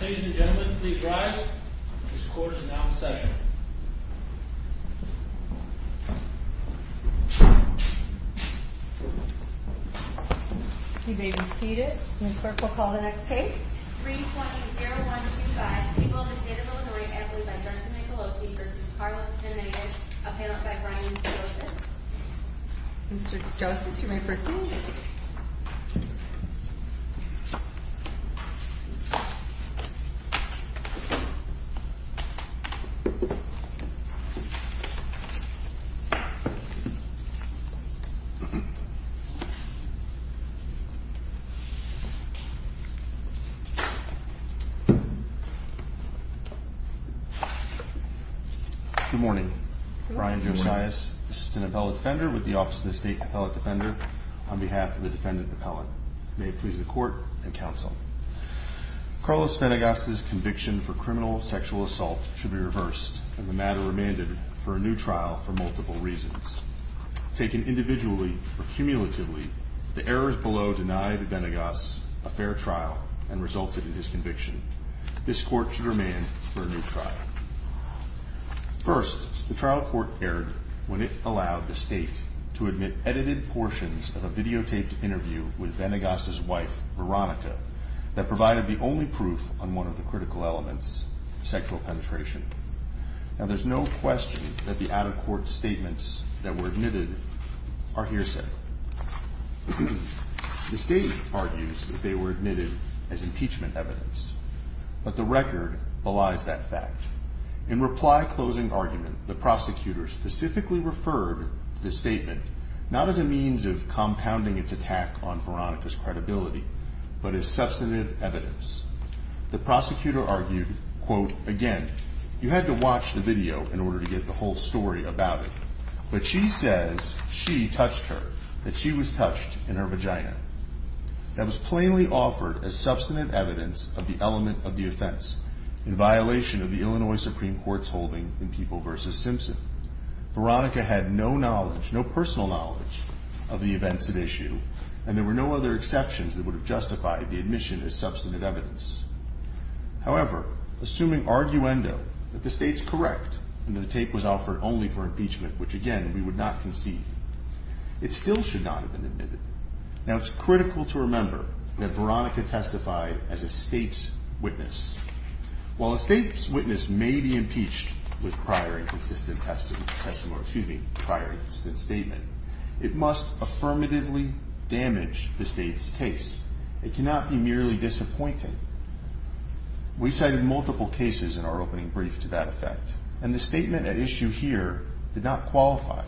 Ladies and gentlemen, please rise. This court is now in session. You may be seated. The clerk will call the next case. 320-125, people of the state of Illinois, employed by Johnson-Nicolosi v. Carlos Venegas, appellant by Brian Joseph. Mr. Joseph, you may proceed. Good morning. Brian Josias, assistant appellate defender with the Office of the State Appellate Defender on behalf of the defendant appellant. May it please the court and counsel. Carlos Venegas's conviction for criminal sexual assault should be reversed, and the matter remanded for a new trial for multiple reasons. Taken individually or cumulatively, the errors below deny Venegas a fair trial and resulted in his conviction. This court should remand for a new trial. First, the trial court erred when it allowed the state to admit edited portions of a videotaped interview with Venegas's wife, Veronica, that provided the only proof on one of the critical elements, sexual penetration. Now, there's no question that the out-of-court statements that were admitted are hearsay. The statement argues that they were admitted as impeachment evidence, but the record belies that fact. In reply closing argument, the prosecutor specifically referred to the statement not as a means of compounding its attack on Veronica's credibility, but as substantive evidence. The prosecutor argued, quote, again, you had to watch the video in order to get the whole story about it. But she says she touched her, that she was touched in her vagina. That was plainly offered as substantive evidence of the element of the offense in violation of the Illinois Supreme Court's holding in People v. Simpson. Veronica had no knowledge, no personal knowledge of the events at issue, and there were no other exceptions that would have justified the admission as substantive evidence. However, assuming arguendo that the state's correct and that the tape was offered only for impeachment, which again, we would not concede, it still should not have been admitted. Now, it's critical to remember that Veronica testified as a state's witness. While a state's witness may be impeached with prior and consistent testimony, excuse me, prior and consistent statement, it must affirmatively damage the state's case. It cannot be merely disappointing. We cited multiple cases in our opening brief to that effect, and the statement at issue here did not qualify.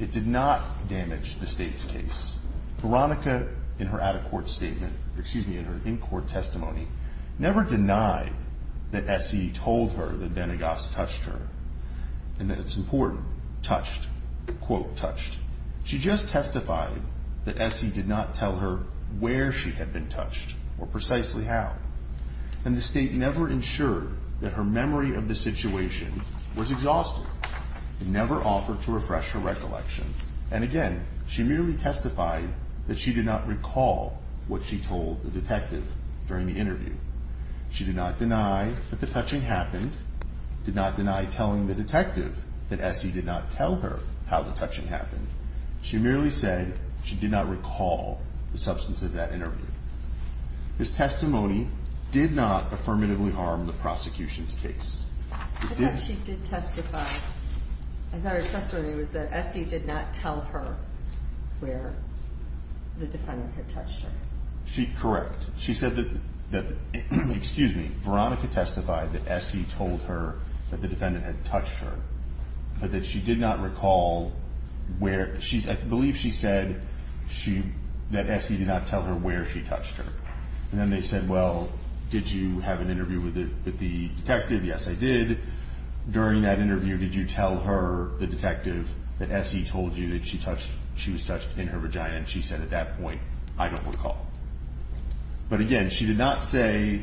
It did not damage the state's case. Veronica, in her out-of-court statement, excuse me, in her in-court testimony, never denied that Essie told her that Vanegas touched her, and that it's important, touched, quote, touched. She just testified that Essie did not tell her where she had been touched, or precisely how. And the state never ensured that her memory of the situation was exhausted. It never offered to refresh her recollection. And again, she merely testified that she did not recall what she told the detective during the interview. She did not deny that the touching happened, did not deny telling the detective that Essie did not tell her how the touching happened. She merely said she did not recall the substance of that interview. This testimony did not affirmatively harm the prosecution's case. I thought she did testify. I thought her testimony was that Essie did not tell her where the defendant had touched her. Correct. She said that, excuse me, Veronica testified that Essie told her that the defendant had touched her, but that she did not recall where. I believe she said that Essie did not tell her where she touched her. And then they said, well, did you have an interview with the detective? Yes, I did. During that interview, did you tell her, the detective, that Essie told you that she was touched in her vagina? And she said at that point, I don't recall. But again, she did not say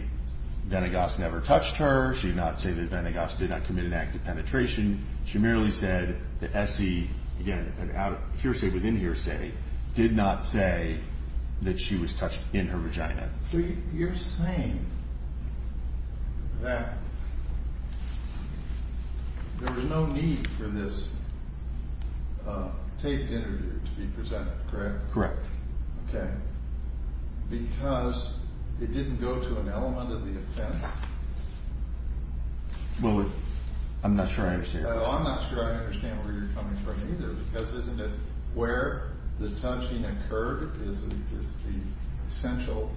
Venegas never touched her. She did not say that Venegas did not commit an act of penetration. She merely said that Essie, again, hearsay within hearsay, did not say that she was touched in her vagina. So you're saying that there was no need for this taped interview to be presented, correct? Correct. Okay. Because it didn't go to an element of the offense? Well, I'm not sure I understand. Well, I'm not sure I understand where you're coming from either, because isn't it where the touching occurred is the essential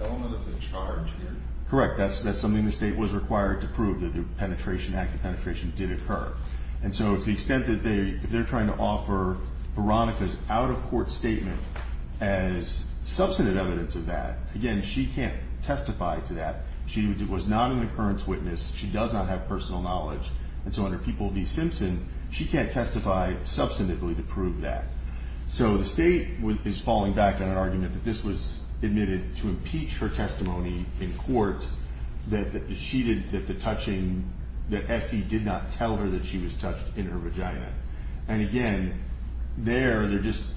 element of the charge here? Correct. That's something the state was required to prove, that the penetration, act of penetration, did occur. And so to the extent that they're trying to offer Veronica's out-of-court statement as substantive evidence of that, again, she can't testify to that. She was not an occurrence witness. She does not have personal knowledge. And so to the extent that they're trying to offer Veronica's out-of-court statement as substantive evidence of that, again, she can't testify to that. So the state is falling back on an argument that this was admitted to impeach her testimony in court, that Essie did not tell her that she was touched in her vagina. And again, there, they're just,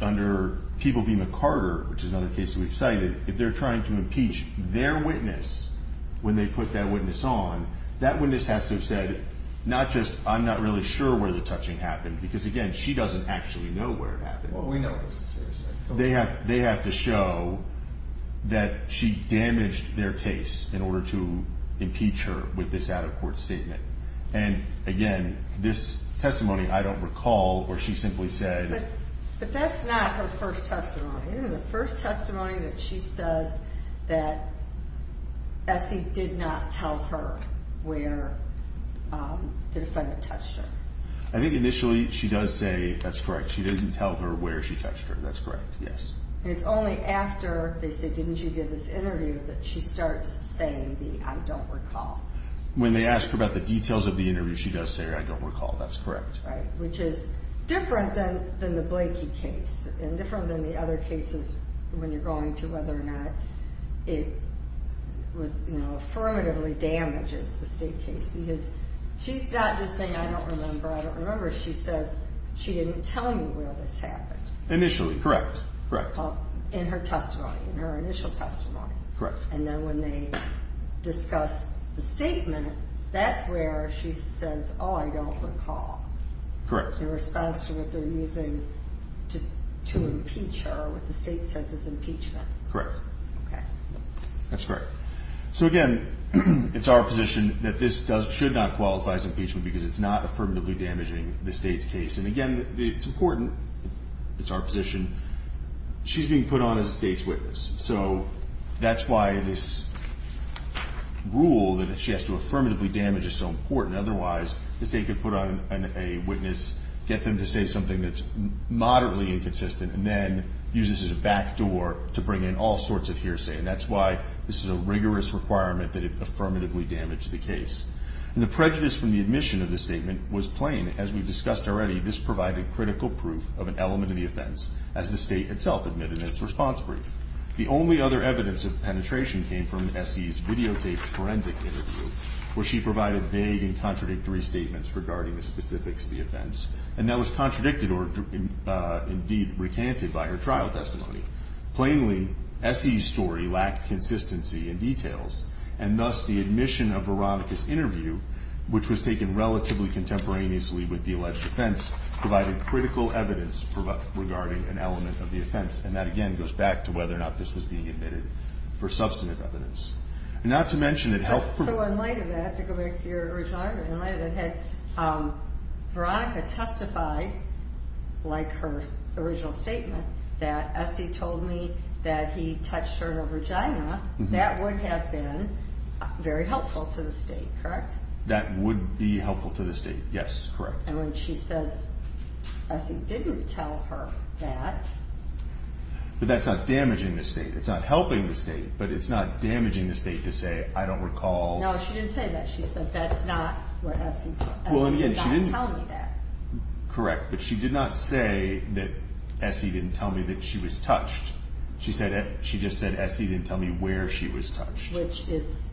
under People v. McCarter, which is another case we've cited, if they're trying to impeach their witness when they put that witness on, that witness has to have said, not just, I'm not really sure where the touching happened, because again, she doesn't actually know where it happened. They have to show that she damaged their case in order to impeach her with this out-of-court statement. And again, this testimony, I don't recall, or she simply said... where the defendant touched her. I think initially she does say, that's correct, she didn't tell her where she touched her, that's correct, yes. It's only after they say, didn't you give this interview, that she starts saying the, I don't recall. When they ask her about the details of the interview, she does say, I don't recall, that's correct. Right, which is different than the Blakey case, and different than the other cases when you're going to whether or not it was affirmatively damaged. The Blakey case is a state case, because she's not just saying, I don't remember, I don't remember. She says, she didn't tell you where this happened. Initially, correct, correct. In her testimony, in her initial testimony. Correct. And then when they discuss the statement, that's where she says, oh, I don't recall. Correct. In response to what they're using to impeach her, what the state says is impeachment. Correct. Okay. That's correct. So again, it's our position that this should not qualify as impeachment, because it's not affirmatively damaging the state's case. And again, it's important. It's our position. She's being put on as a state's witness. So that's why this rule that she has to affirmatively damage is so important. Otherwise, the state could put on a witness, get them to say something that's moderately inconsistent, and then use this as a backdoor to bring in all sorts of hearsay. And that's why this is a rigorous requirement that it affirmatively damage the case. And the prejudice from the admission of the statement was plain. As we've discussed already, this provided critical proof of an element of the offense, as the state itself admitted in its response brief. The only other evidence of penetration came from S.E.'s videotaped forensic interview, and that was contradicted or indeed recanted by her trial testimony. Plainly, S.E.'s story lacked consistency and details, and thus the admission of Veronica's interview, which was taken relatively contemporaneously with the alleged offense, provided critical evidence regarding an element of the offense. And that, again, goes back to whether or not this was being admitted for substantive evidence. Not to mention it helped... So in light of that, to go back to your original argument, in light of that, had Veronica testified, like her original statement, that S.E. told me that he touched her in her vagina, that would have been very helpful to the state, correct? That would be helpful to the state, yes, correct. And when she says S.E. didn't tell her that... But that's not damaging the state. It's not helping the state, but it's not damaging the state to say, I don't recall... No, she didn't say that. She said that's not where S.E. did not tell me that. Correct, but she did not say that S.E. didn't tell me that she was touched. She just said S.E. didn't tell me where she was touched. Which is,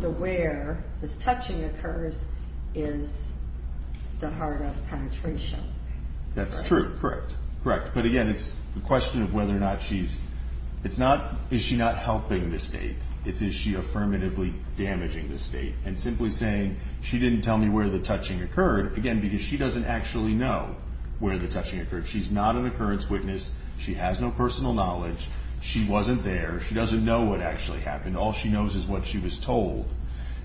the where this touching occurs is the heart of penetration. That's true, correct, correct. But again, it's a question of whether or not she's... It's not, is she not helping the state? It's, is she affirmatively damaging the state? And simply saying, she didn't tell me where the touching occurred, again, because she doesn't actually know where the touching occurred. She's not an occurrence witness. She has no personal knowledge. She wasn't there. She doesn't know what actually happened. All she knows is what she was told.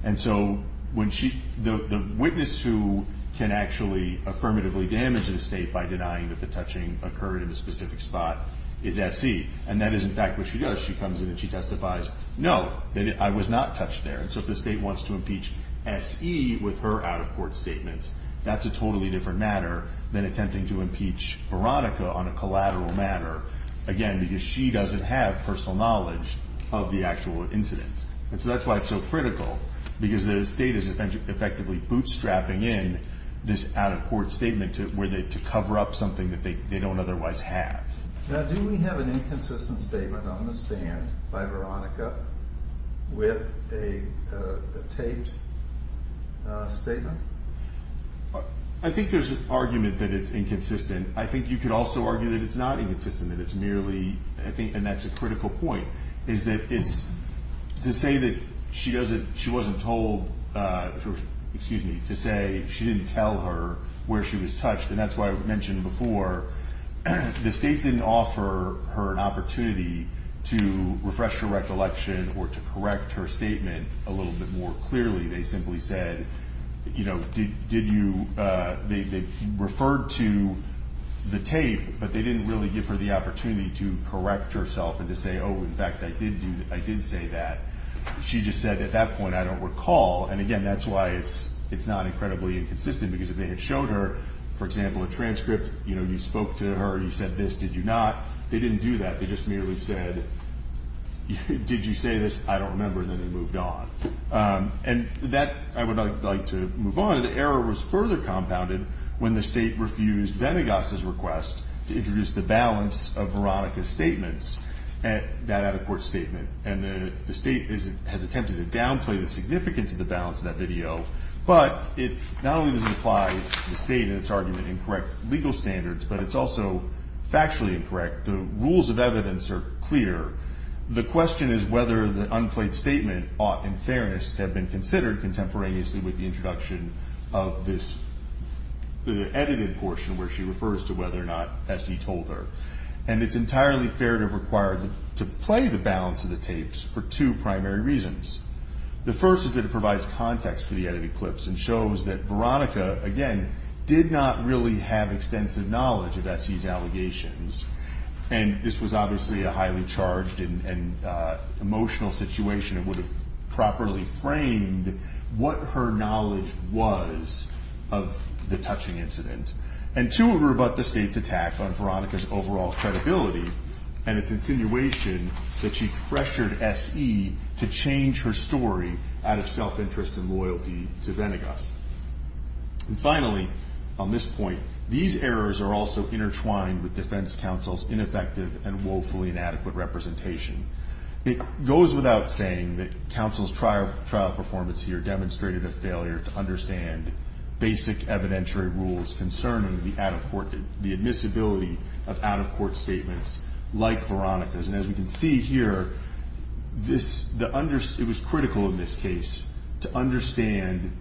And so when she... The witness who can actually affirmatively damage the state by denying that the touching occurred in a specific spot is S.E. And that is, in fact, what she does. She comes in and she testifies, no, I was not touched there. And so if the state wants to impeach S.E. with her out-of-court statements, that's a totally different matter than attempting to impeach Veronica on a collateral matter. Again, because she doesn't have personal knowledge of the actual incident. And so that's why it's so critical. Because the state is effectively bootstrapping in this out-of-court statement to cover up something that they don't otherwise have. Now, do we have an inconsistent statement on the stand by Veronica with a taped statement? I think there's an argument that it's inconsistent. I think you could also argue that it's not inconsistent, that it's merely... And that's a critical point, is that it's... To say that she wasn't told... Excuse me. To say she didn't tell her where she was touched, and that's why I mentioned before, the state didn't offer her an opportunity to refresh her recollection or to correct her statement a little bit more clearly. They simply said, you know, did you... They referred to the tape, but they didn't really give her the opportunity to correct herself and to say, oh, in fact, I did say that. She just said, at that point, I don't recall. And again, that's why it's not incredibly inconsistent. Because if they had shown her, for example, a transcript, you know, you spoke to her, you said this, did you not? They didn't do that. They just merely said, did you say this? I don't remember, and then they moved on. And that... I would like to move on. The error was further compounded when the state refused Venegas's request to introduce the balance of Veronica's statements at that out-of-court statement. And the state has attempted to downplay the significance of the balance of that video, but it not only doesn't apply to the state in its argument and its standards, but it's also factually incorrect. The rules of evidence are clear. The question is whether the unplayed statement ought, in fairness, to have been considered contemporaneously with the introduction of this edited portion where she refers to whether or not Bessie told her. And it's entirely fair to have required to play the balance of the tapes for two primary reasons. The first is that it provides context for the edited clips and shows that Veronica, again, didn't have extensive knowledge of S.E.'s allegations. And this was obviously a highly charged and emotional situation that would have properly framed what her knowledge was of the touching incident. And two, it would rebut the state's attack on Veronica's overall credibility and its insinuation that she pressured S.E. to change her story out of self-interest and loyalty to Venegas. And finally, on this point, these are also intertwined with defense counsel's ineffective and woefully inadequate representation. It goes without saying that counsel's trial performance here demonstrated a failure to understand basic evidentiary rules concerning the admissibility of out-of-court statements like Veronica's. And as we can see here, it was critical in this case to understand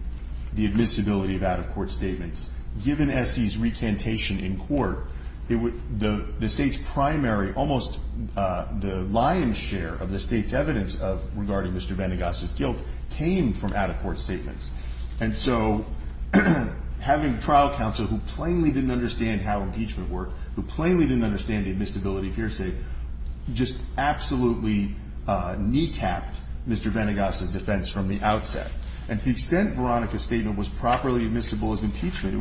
the admissibility of out-of-court statements given S.E.'s recantation in the Supreme Court. The state's primary, almost the lion's share of the state's evidence regarding Mr. Venegas' guilt came from out-of-court statements. And so having trial counsel who plainly didn't understand how impeachment worked, who plainly didn't understand the admissibility of hearsay, just absolutely kneecapped Mr. Venegas' defense from the outset. And to the extent Veronica's statement was properly admissible as impeachment,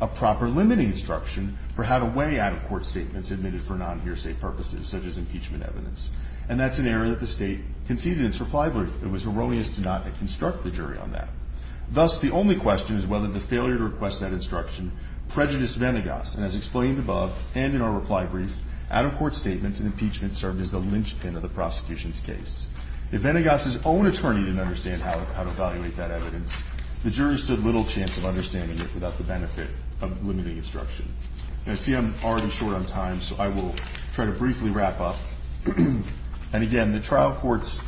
a proper limiting instruction for how to weigh out-of-court statements admitted for non-hearsay purposes such as impeachment evidence. And that's an area that the state conceded in its reply brief it was erroneous to not construct the jury on that. Thus, the only question is whether the failure to request that instruction prejudiced Venegas. And as explained above and in our reply brief, out-of-court statements are an area of limiting instruction. And I see I'm already short on time, so I will try to briefly wrap up. And again, the trial courts,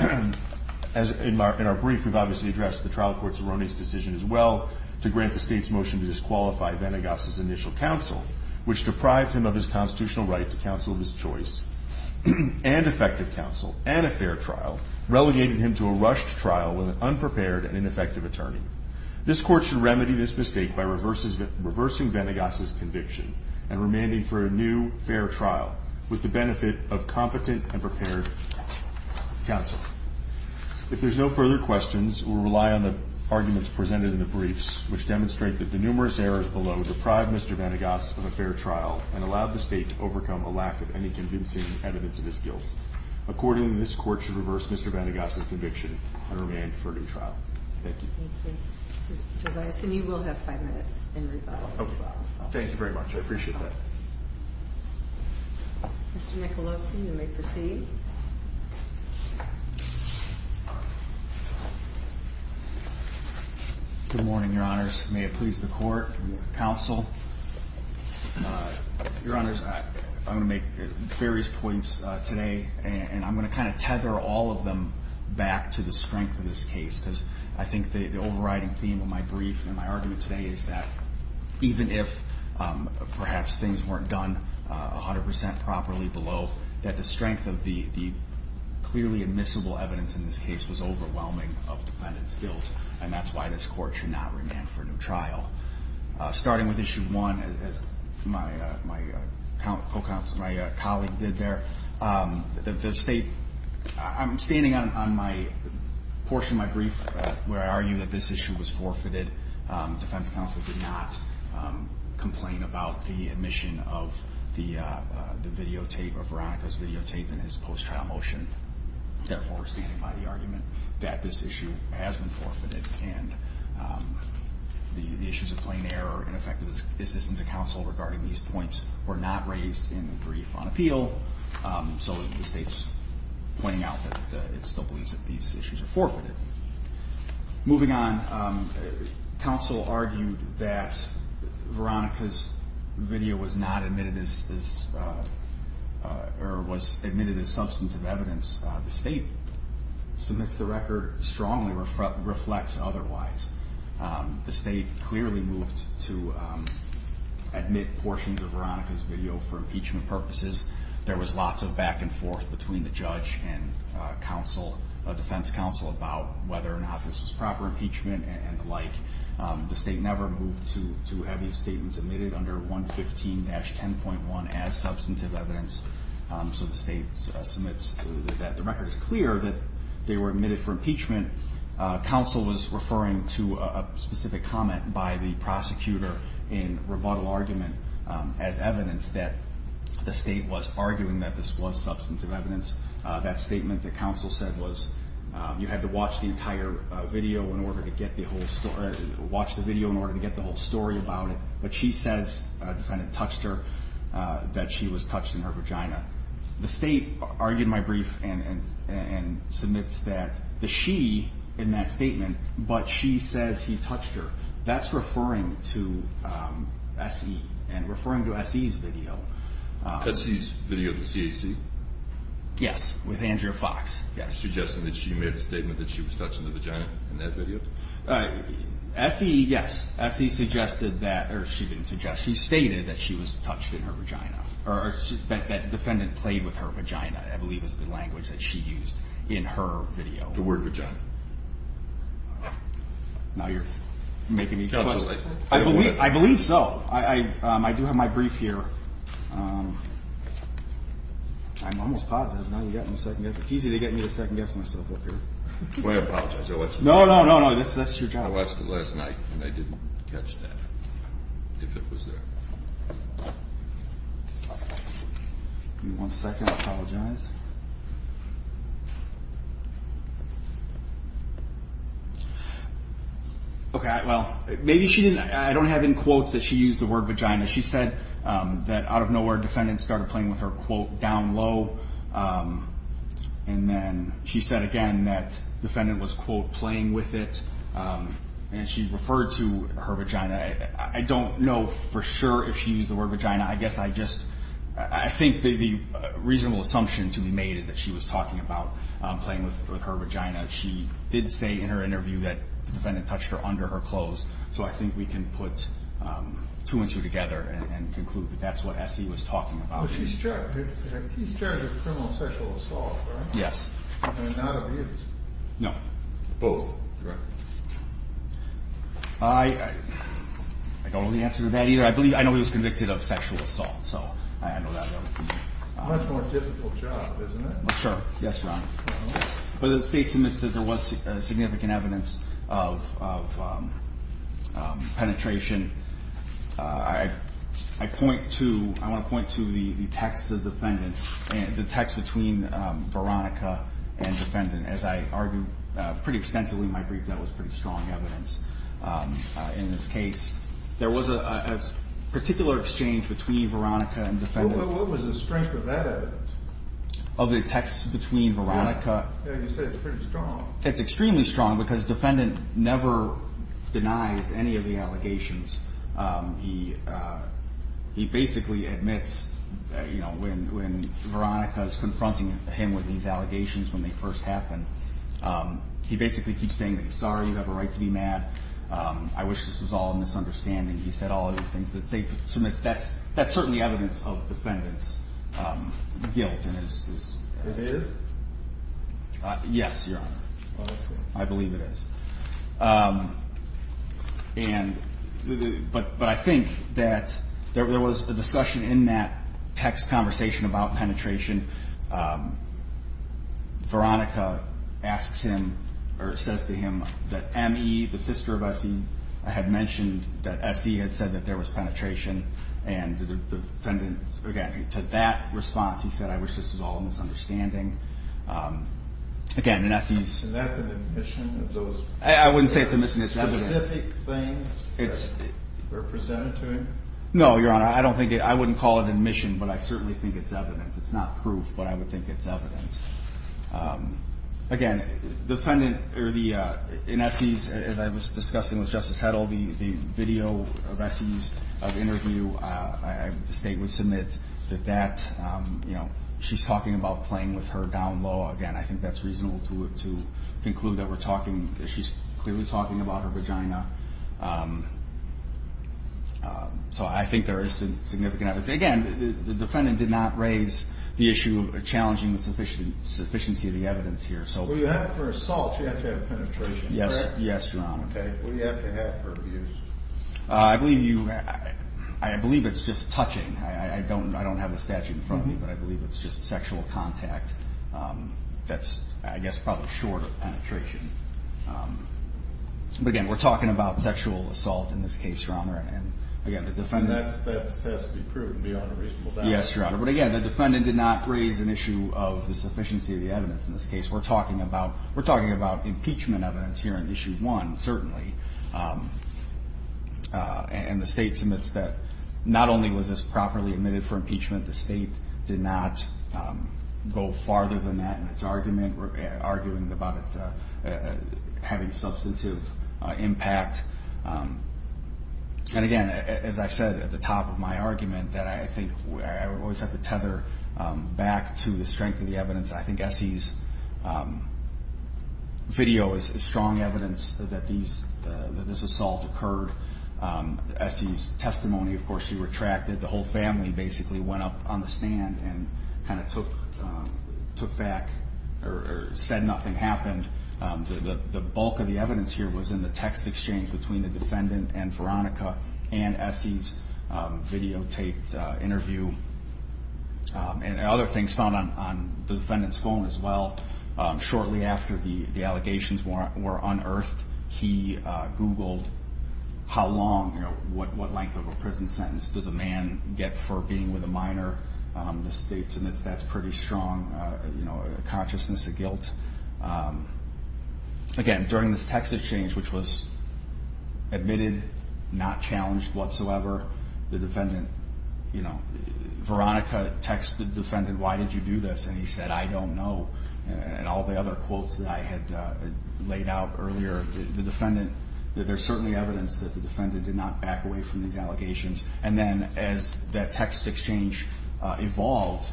in our brief, we've obviously addressed the trial court's erroneous decision as well to grant the state's motion to disqualify Venegas' initial counsel, which deprived him of his constitutional right to counsel of his choice and effective counsel and a fair trial, relegating him to a rushed trial with an unprepared and ineffective attorney. This court should remedy this mistake by reversing Venegas' conviction and remanding for a new fair trial with the benefit of competent and prepared counsel. If there's no further questions, we'll rely on the arguments presented in the briefs, which demonstrate that the numerous errors below deprived Mr. Venegas of a fair trial and allowed the state to overcome Accordingly, this court should reverse Mr. Venegas' conviction and remand for a new trial. Thank you. I assume you will have five minutes in rebuttal. Thank you very much. I appreciate that. Mr. Nicolosi, you may proceed. Good morning, Your Honors. May it please the court and counsel. Your Honors, I'm going to make various points today and I'm going to kind of tether all of them back to the strength of this case because I think the overriding theme of my brief and my argument today is that even if perhaps things weren't done 100% properly below, that the strength of the clearly admissible evidence in this case was overwhelming of defendant's guilt and that's why this court should not remand for a new trial. Starting with issue one, as my colleague did there, the state, I'm standing on my portion of my brief where I argue that this issue was forfeited. Defense counsel did not complain about the admission of the videotape, of Veronica's videotape and his post-trial motion. Therefore, we're standing by the argument that this issue has been forfeited and the issues of plain error and ineffective assistance to counsel regarding these points were not raised in the brief on appeal so the state's pointing out that it still believes that these issues are forfeited. Moving on, counsel argued that Veronica's video was not admitted as, or was admitted as substantive evidence. The state submits the record strongly or reflects otherwise. The state clearly moved to admit portions of Veronica's video for impeachment purposes. There was lots of back and forth between the judge and defense counsel about whether or not this was proper impeachment and the like. The state never moved to have these statements admitted under 115-10.1 as substantive evidence so the state submits that the record is clear that they were admitted for impeachment. Counsel was referring to a specific comment by the prosecutor in rebuttal argument as evidence that the state was arguing that this was substantive evidence. That statement that counsel said was you had to watch the entire video in order to get the whole story, watch the video in order to get the whole story about it but she says, the defendant touched her, that she was touched in her vagina. The state argued my brief and submits that the she in that statement but she says he touched her, that's referring to SE and referring to SE's video. SE's video to CAC? Yes, with Andrea Fox. Yes. Suggesting that she made a statement that she was touched in the vagina in that video? SE, yes. SE suggested that, or she didn't suggest, she stated that she was touched in her vagina or that defendant played with her vagina I believe is the language that she used in her video. The word vagina. Now you're making me question. Counsel, I don't want to. I believe so. I do have my brief here. I'm almost positive. Now you're getting a second guess. It's easy to get me to second guess myself up here. I apologize. No, no, no. That's your job. I watched it last night and I didn't catch that. If it was there. Give me one second. I apologize. Okay, well, maybe she didn't, I don't have any quotes that she used the word vagina. She said that out of nowhere defendant started playing with her quote down low. And then she said again that defendant was quote playing with it. And she referred to her vagina. I don't know for sure if she used the word vagina. I guess I just, I think the reasonable assumption to be made is that she was talking about playing with her vagina. She did say in her interview that the defendant touched her under her clothes. So I think we can put two and two together and conclude that that's what S.E. was talking about. But he's charged with criminal sexual assault, right? Yes. And not abuse. No. Both. Correct. I don't know the answer to that either. I know he was convicted of sexual assault. So I know that. Much more difficult job, isn't it? Sure. Yes, Ron. But the state submits that there was significant evidence of penetration I point to, I want to point to the text of the defendant, the text between Veronica and defendant. As I argue pretty extensively in my brief, that was pretty strong evidence in this case. There was a particular exchange between Veronica and defendant. What was the strength of that evidence? Of the text between Veronica. Yeah, you said it's pretty strong. It's extremely strong because defendant never denies any of the allegations. He basically admits when Veronica is confronting him with these allegations when they first happen, he basically keeps saying sorry, you have a right to be mad. I wish this was all a misunderstanding. He said all of these things. The state submits that's certainly evidence of defendant's guilt. It is? Yes, Your Honor. I believe it is. But I think that there was a discussion in that text conversation about penetration. Veronica asks him or says to him that M.E., the sister of S.E. had mentioned that S.E. had said that there was penetration. To that response, he said, I wish this was all a misunderstanding. Again, in S.E.'s... And that's an admission of those... I wouldn't say it's an admission. It's evidence. Specific things that are presented to him? No, Your Honor. I wouldn't call it an admission, but I certainly think it's evidence. It's not proof, but I would think it's evidence. Again, in S.E.'s, as I was discussing with Justice Hedl, the video of S.E.'s interview, the state would submit that she's talking about playing with her down low. Again, I think that's reasonable to conclude that we're talking that she's clearly talking about her vagina. So I think there is significant evidence. Again, the defendant did not raise the issue of challenging the sufficiency of the evidence here. For assault, you have to have penetration, correct? Yes, Your Honor. What do you have to have for abuse? I believe you... I believe it's just touching. I don't have the statute in front of me, but I believe it's just sexual contact that's, I guess, probably short of penetration. But again, we're talking about sexual assault in this case, Your Honor. And again, the defendant... That has to be proven beyond a reasonable doubt. Yes, Your Honor. But again, the defendant did not raise an issue of the sufficiency of the evidence in this case. We're talking about impeachment evidence here in Issue 1, certainly. And the state submits that not only was this properly admitted for impeachment, the state did not go farther than that in its argument, arguing about it having substantive impact. And again, as I said at the top of my argument, that I think I always have to tether back to the strength of the evidence. I think Essie's video is strong evidence that this assault occurred. Essie's testimony, of course, she retracted. The whole family basically went up on the stand and kind of took back or said nothing happened. The bulk of the evidence here was in the text exchange between the defendant and Veronica, and Essie's videotaped interview. And other things found on the defendant's phone as well. Shortly after the allegations were unearthed, he googled how long, what length of a prison sentence does a man get for being with a minor. The state submits that's pretty strong. Consciousness to guilt. Again, during this text exchange, which was admitted, not challenged whatsoever. The defendant, Veronica texted the defendant, why did you do this? And he said, I don't know. And all the other quotes that I had laid out earlier. The defendant, there's certainly evidence that the defendant did not back away from these allegations. And then, as that text exchange evolved,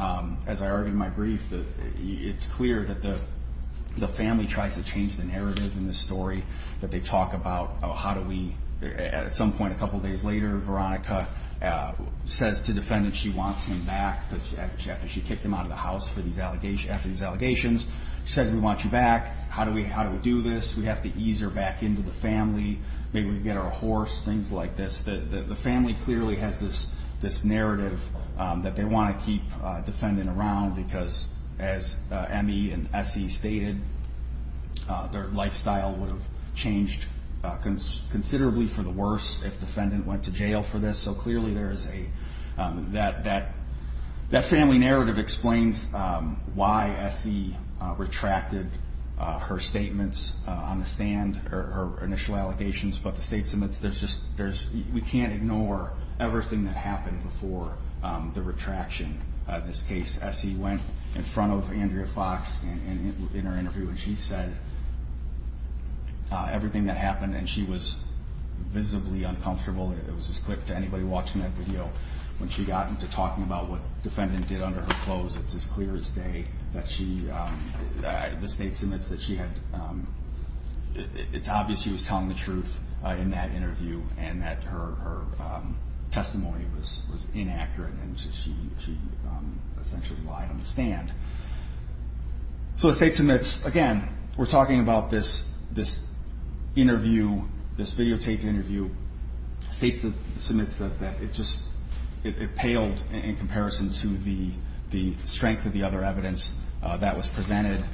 as I argued in my brief, it's clear that the family tries to change the narrative in this story. That they talk about how do we, at some point, a couple days later, Veronica says to the defendant she wants him back after she kicked him out of the house after these allegations. She said, we want you back. How do we do this? We have to ease her back into the family. Maybe we can get her a horse. Things like this. The family clearly has this narrative that they want to keep the defendant around because, as M.E. and S.E. stated, their lifestyle would have changed considerably for the worse if the defendant went to jail for this. So clearly there is a, that family narrative explains why S.E. retracted her statements on the stand, her initial allegations. But the state submits, there's just, we can't ignore everything that happened before the retraction. This case, S.E. went in front of Andrea Fox in her interview and she said everything that happened and she was visibly uncomfortable. It was as quick to anybody watching that video when she got into talking about what the defendant did under her clothes. It's as clear as day that she, the state submits that she had, it's obvious she was telling the truth in that interview and that her testimony was inaccurate and she essentially lied on the stand. So the state submits, again, we're talking about this interview, this videotaped interview. The state submits that it just, it paled in comparison to the strength of the other evidence that was presented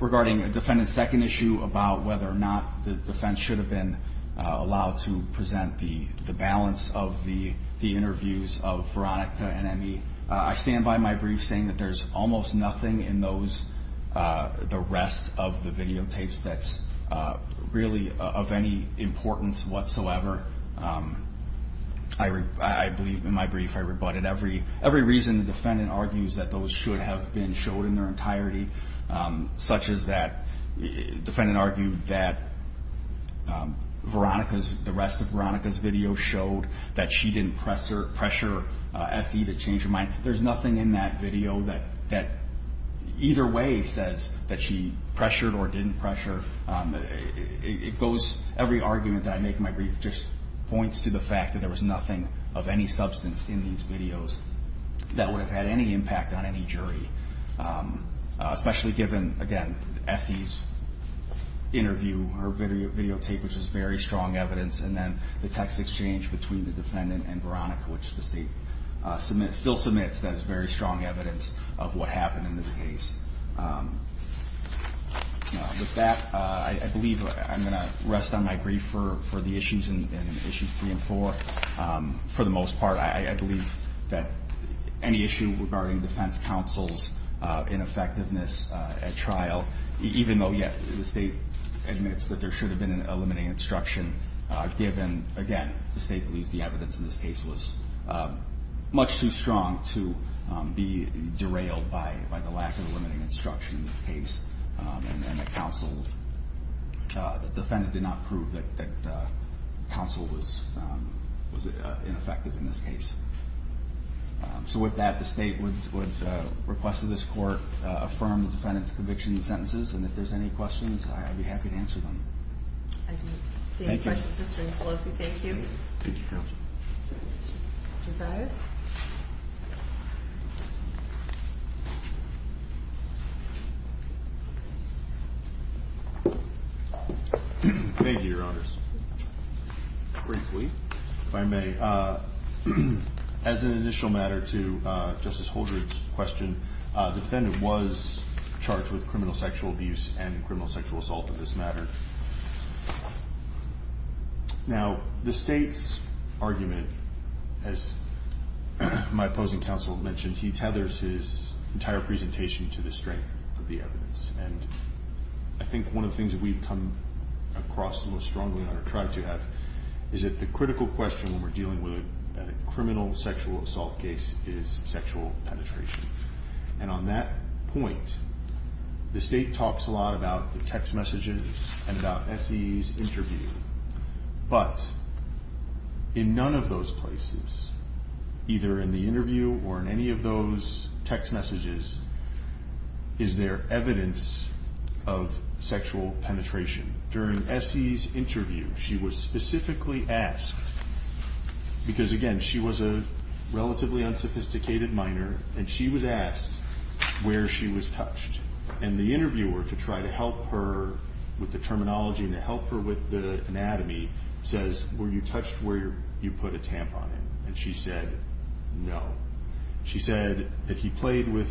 regarding the defendant's second issue about whether or not the defense should have been allowed to present the balance of the interviews of Veronica and Emmy. I stand by my brief saying that there's almost nothing in those, the rest of the videotapes that's really of any importance whatsoever. I believe in my brief I rebutted every reason the defendant argues that those should have been showed in their entirety, such as that the defendant argued that the rest of Veronica's video showed that she didn't pressure Essie to change her mind. There's nothing in that video that either way says that she pressured or didn't pressure. Every argument that I make in my brief just points to the fact that there was nothing of any substance in these videos that would have had any impact on any jury, especially given, again, Essie's interview, her videotape, which is very strong evidence, and then the text exchange between the defendant and Veronica, which the state still submits as very strong evidence of what happened in this case. With that, I believe I'm going to rest on my brief for the issues in Issues 3 and 4. For the most part, I believe that any issue regarding defense counsel's ineffectiveness at trial, even though, yes, the state admits that there should have been a limiting instruction, given, again, the state believes the evidence in this case was much too strong to be derailed by the lack of a limiting instruction in this case, and the counsel, the defendant did not prove that counsel was ineffective in this case. So with that, the state would request that this court affirm the defendant's conviction and sentences, and if there's any questions, I'd be happy to answer them. I don't see any questions. Mr. Infelosi, thank you. Thank you, counsel. Mr. Zais? Thank you, Your Honors. Briefly, if I may. As an initial matter to Justice Holdren's question, the defendant was charged with criminal sexual abuse and criminal sexual assault in this matter. Now, the state's argument, as my opposing counsel mentioned, he tethers his entire presentation to the strength of the evidence, and I think one of the things that we've come across most strongly, and I've tried to have, is that the critical question when we're dealing with a criminal sexual assault case is sexual penetration, and on that point, the state talks a lot about the text messages and about S.E.'s interview, but in none of those places, either in the interview or in any of those text messages, is there evidence of sexual penetration. During S.E.'s interview, she was specifically asked, because again, she was a relatively unsophisticated minor, and she was asked where she was touched, and the interviewer, to try to help her with the terminology and to help her with the anatomy, says, were you touched where you put a tampon in? And she said, no. She said that he played with,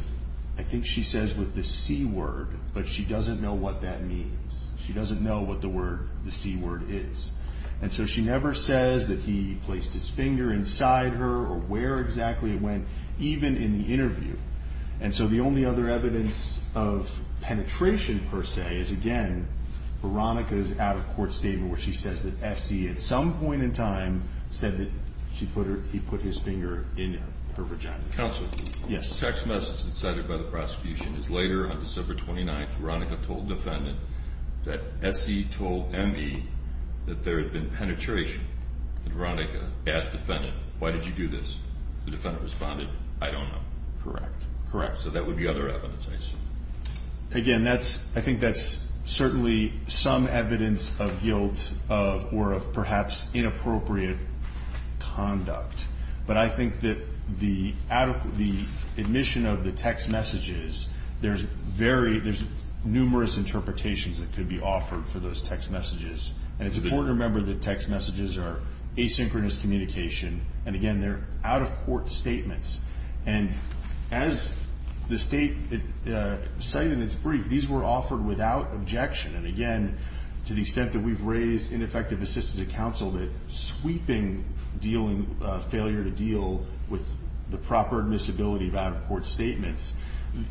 I think she says, with the C word, but she doesn't know what that means. She doesn't know what the C word is, and so she never says that he placed his finger inside her or where exactly it went, even in the interview, and so the only other evidence of penetration, per se, is again, Veronica's out-of-court statement where she says that S.E., at some point in time, said that he put his finger in her vagina. Counselor? Yes. The text message that's cited by the prosecution is later on December 29th, Veronica told defendant that S.E. told M.E. that there had been penetration, and Veronica asked defendant, why did you do this? The defendant responded, I don't know. Correct. Correct. So that would be other evidence I assume. Again, I think that's certainly some evidence of guilt or of perhaps inappropriate conduct, but I think that the admission of the text messages, there's numerous interpretations that could be offered for those text messages, and it's important to remember that text messages are asynchronous communication, and again, they're out-of-court statements, and as the state cited in its brief, these were offered without objection, and again, to the extent that we've raised ineffective assistance to counsel, that sweeping dealing, failure to deal with the proper admissibility of out-of-court statements,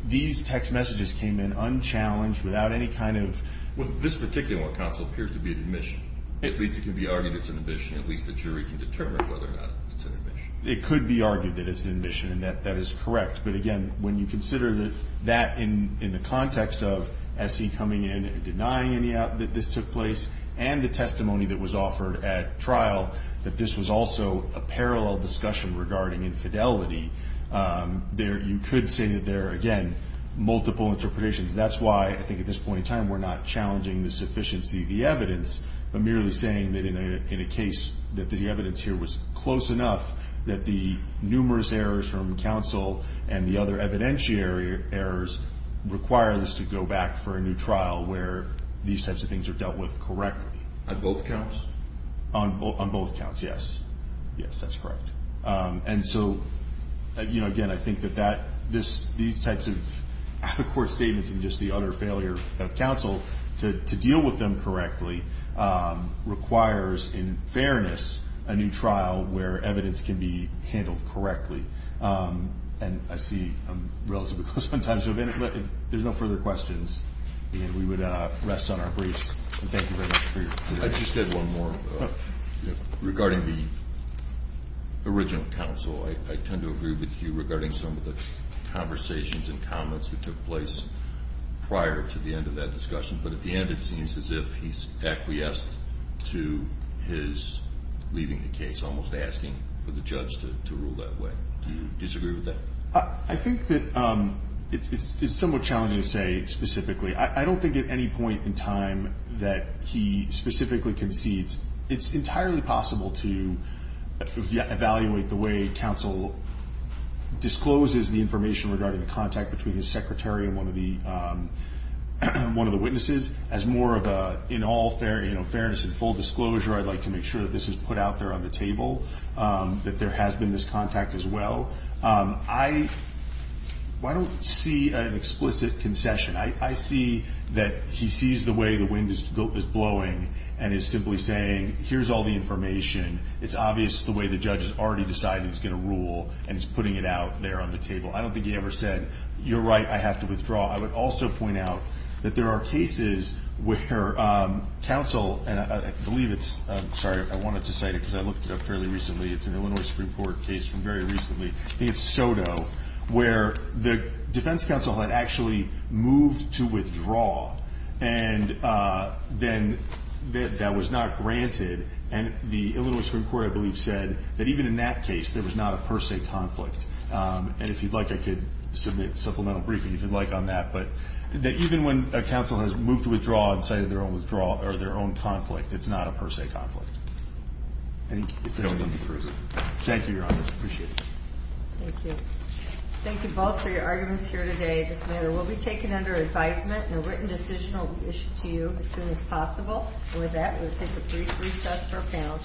these text messages came in unchallenged, without any kind of... Well, this particular one, counsel, appears to be an admission. At least it can be argued it's an admission, at least the jury can determine whether or not it's an admission. It could be argued that it's an admission, and that is correct, but again, when you consider that in the context of S.C. coming in and denying that this took place, and the testimony that was offered at trial, that this was also a parallel discussion regarding infidelity, you could say that there are, again, multiple interpretations. That's why, I think at this point in time, we're not challenging the sufficiency of the evidence, but merely saying that in a case that the evidence here was close enough that the numerous errors from counsel and the other evidentiary errors require this to go back for a new trial where these types of things are dealt with correctly. On both counts? On both counts, yes. Yes, that's correct. And so, you know, again, I think that these types of out of court statements and just the utter failure of counsel to deal with them correctly requires, in fairness, a new trial where evidence can be handled correctly. And I see I'm relatively close on time, so if there's no further questions, we would rest on our briefs. Thank you very much for your time. I just had one more. Regarding the original counsel, I tend to agree with you regarding some of the conversations and comments that took place of that discussion, but at the end, it seems as if he's acquiesced to his leaving the case, and he's almost asking for the judge to rule that way. Do you disagree with that? I think that it's somewhat challenging to say specifically. I don't think at any point in time that he specifically concedes. It's entirely possible to evaluate the way counsel discloses the information regarding the contact between his secretary and one of the witnesses as more of a in all fairness and full disclosure, I'd like to make sure that this is put out there on the table, that there has been this contact as well. I don't see an explicit concession. I see that he sees the way the wind is blowing and is simply saying, here's all the information. It's obvious the way the judge has already decided he's going to rule and he's putting it out there on the table. I don't think he ever said, you're right, I have to withdraw. I would also point out that there are cases where counsel, and I believe it's, sorry, I wanted to cite it because I looked it up fairly recently, it's an Illinois Supreme Court case from very recently, I think it's Soto, where the defense counsel had actually moved to withdraw and then that was not granted and the Illinois Supreme Court I believe said that even in that case there was not a per se conflict and if you'd like, I could submit a supplemental briefing if you'd like on that, but that even when a counsel has moved to withdraw and cited their own withdrawal or their own conflict, it's not a per se conflict if they don't need to prove it. Thank you, Your Honor. I appreciate it. Thank you. Thank you both for your arguments here today. This matter will be taken under advisement and a written decision will be issued to you as soon as possible. And with that, we'll take a brief recess for our panel.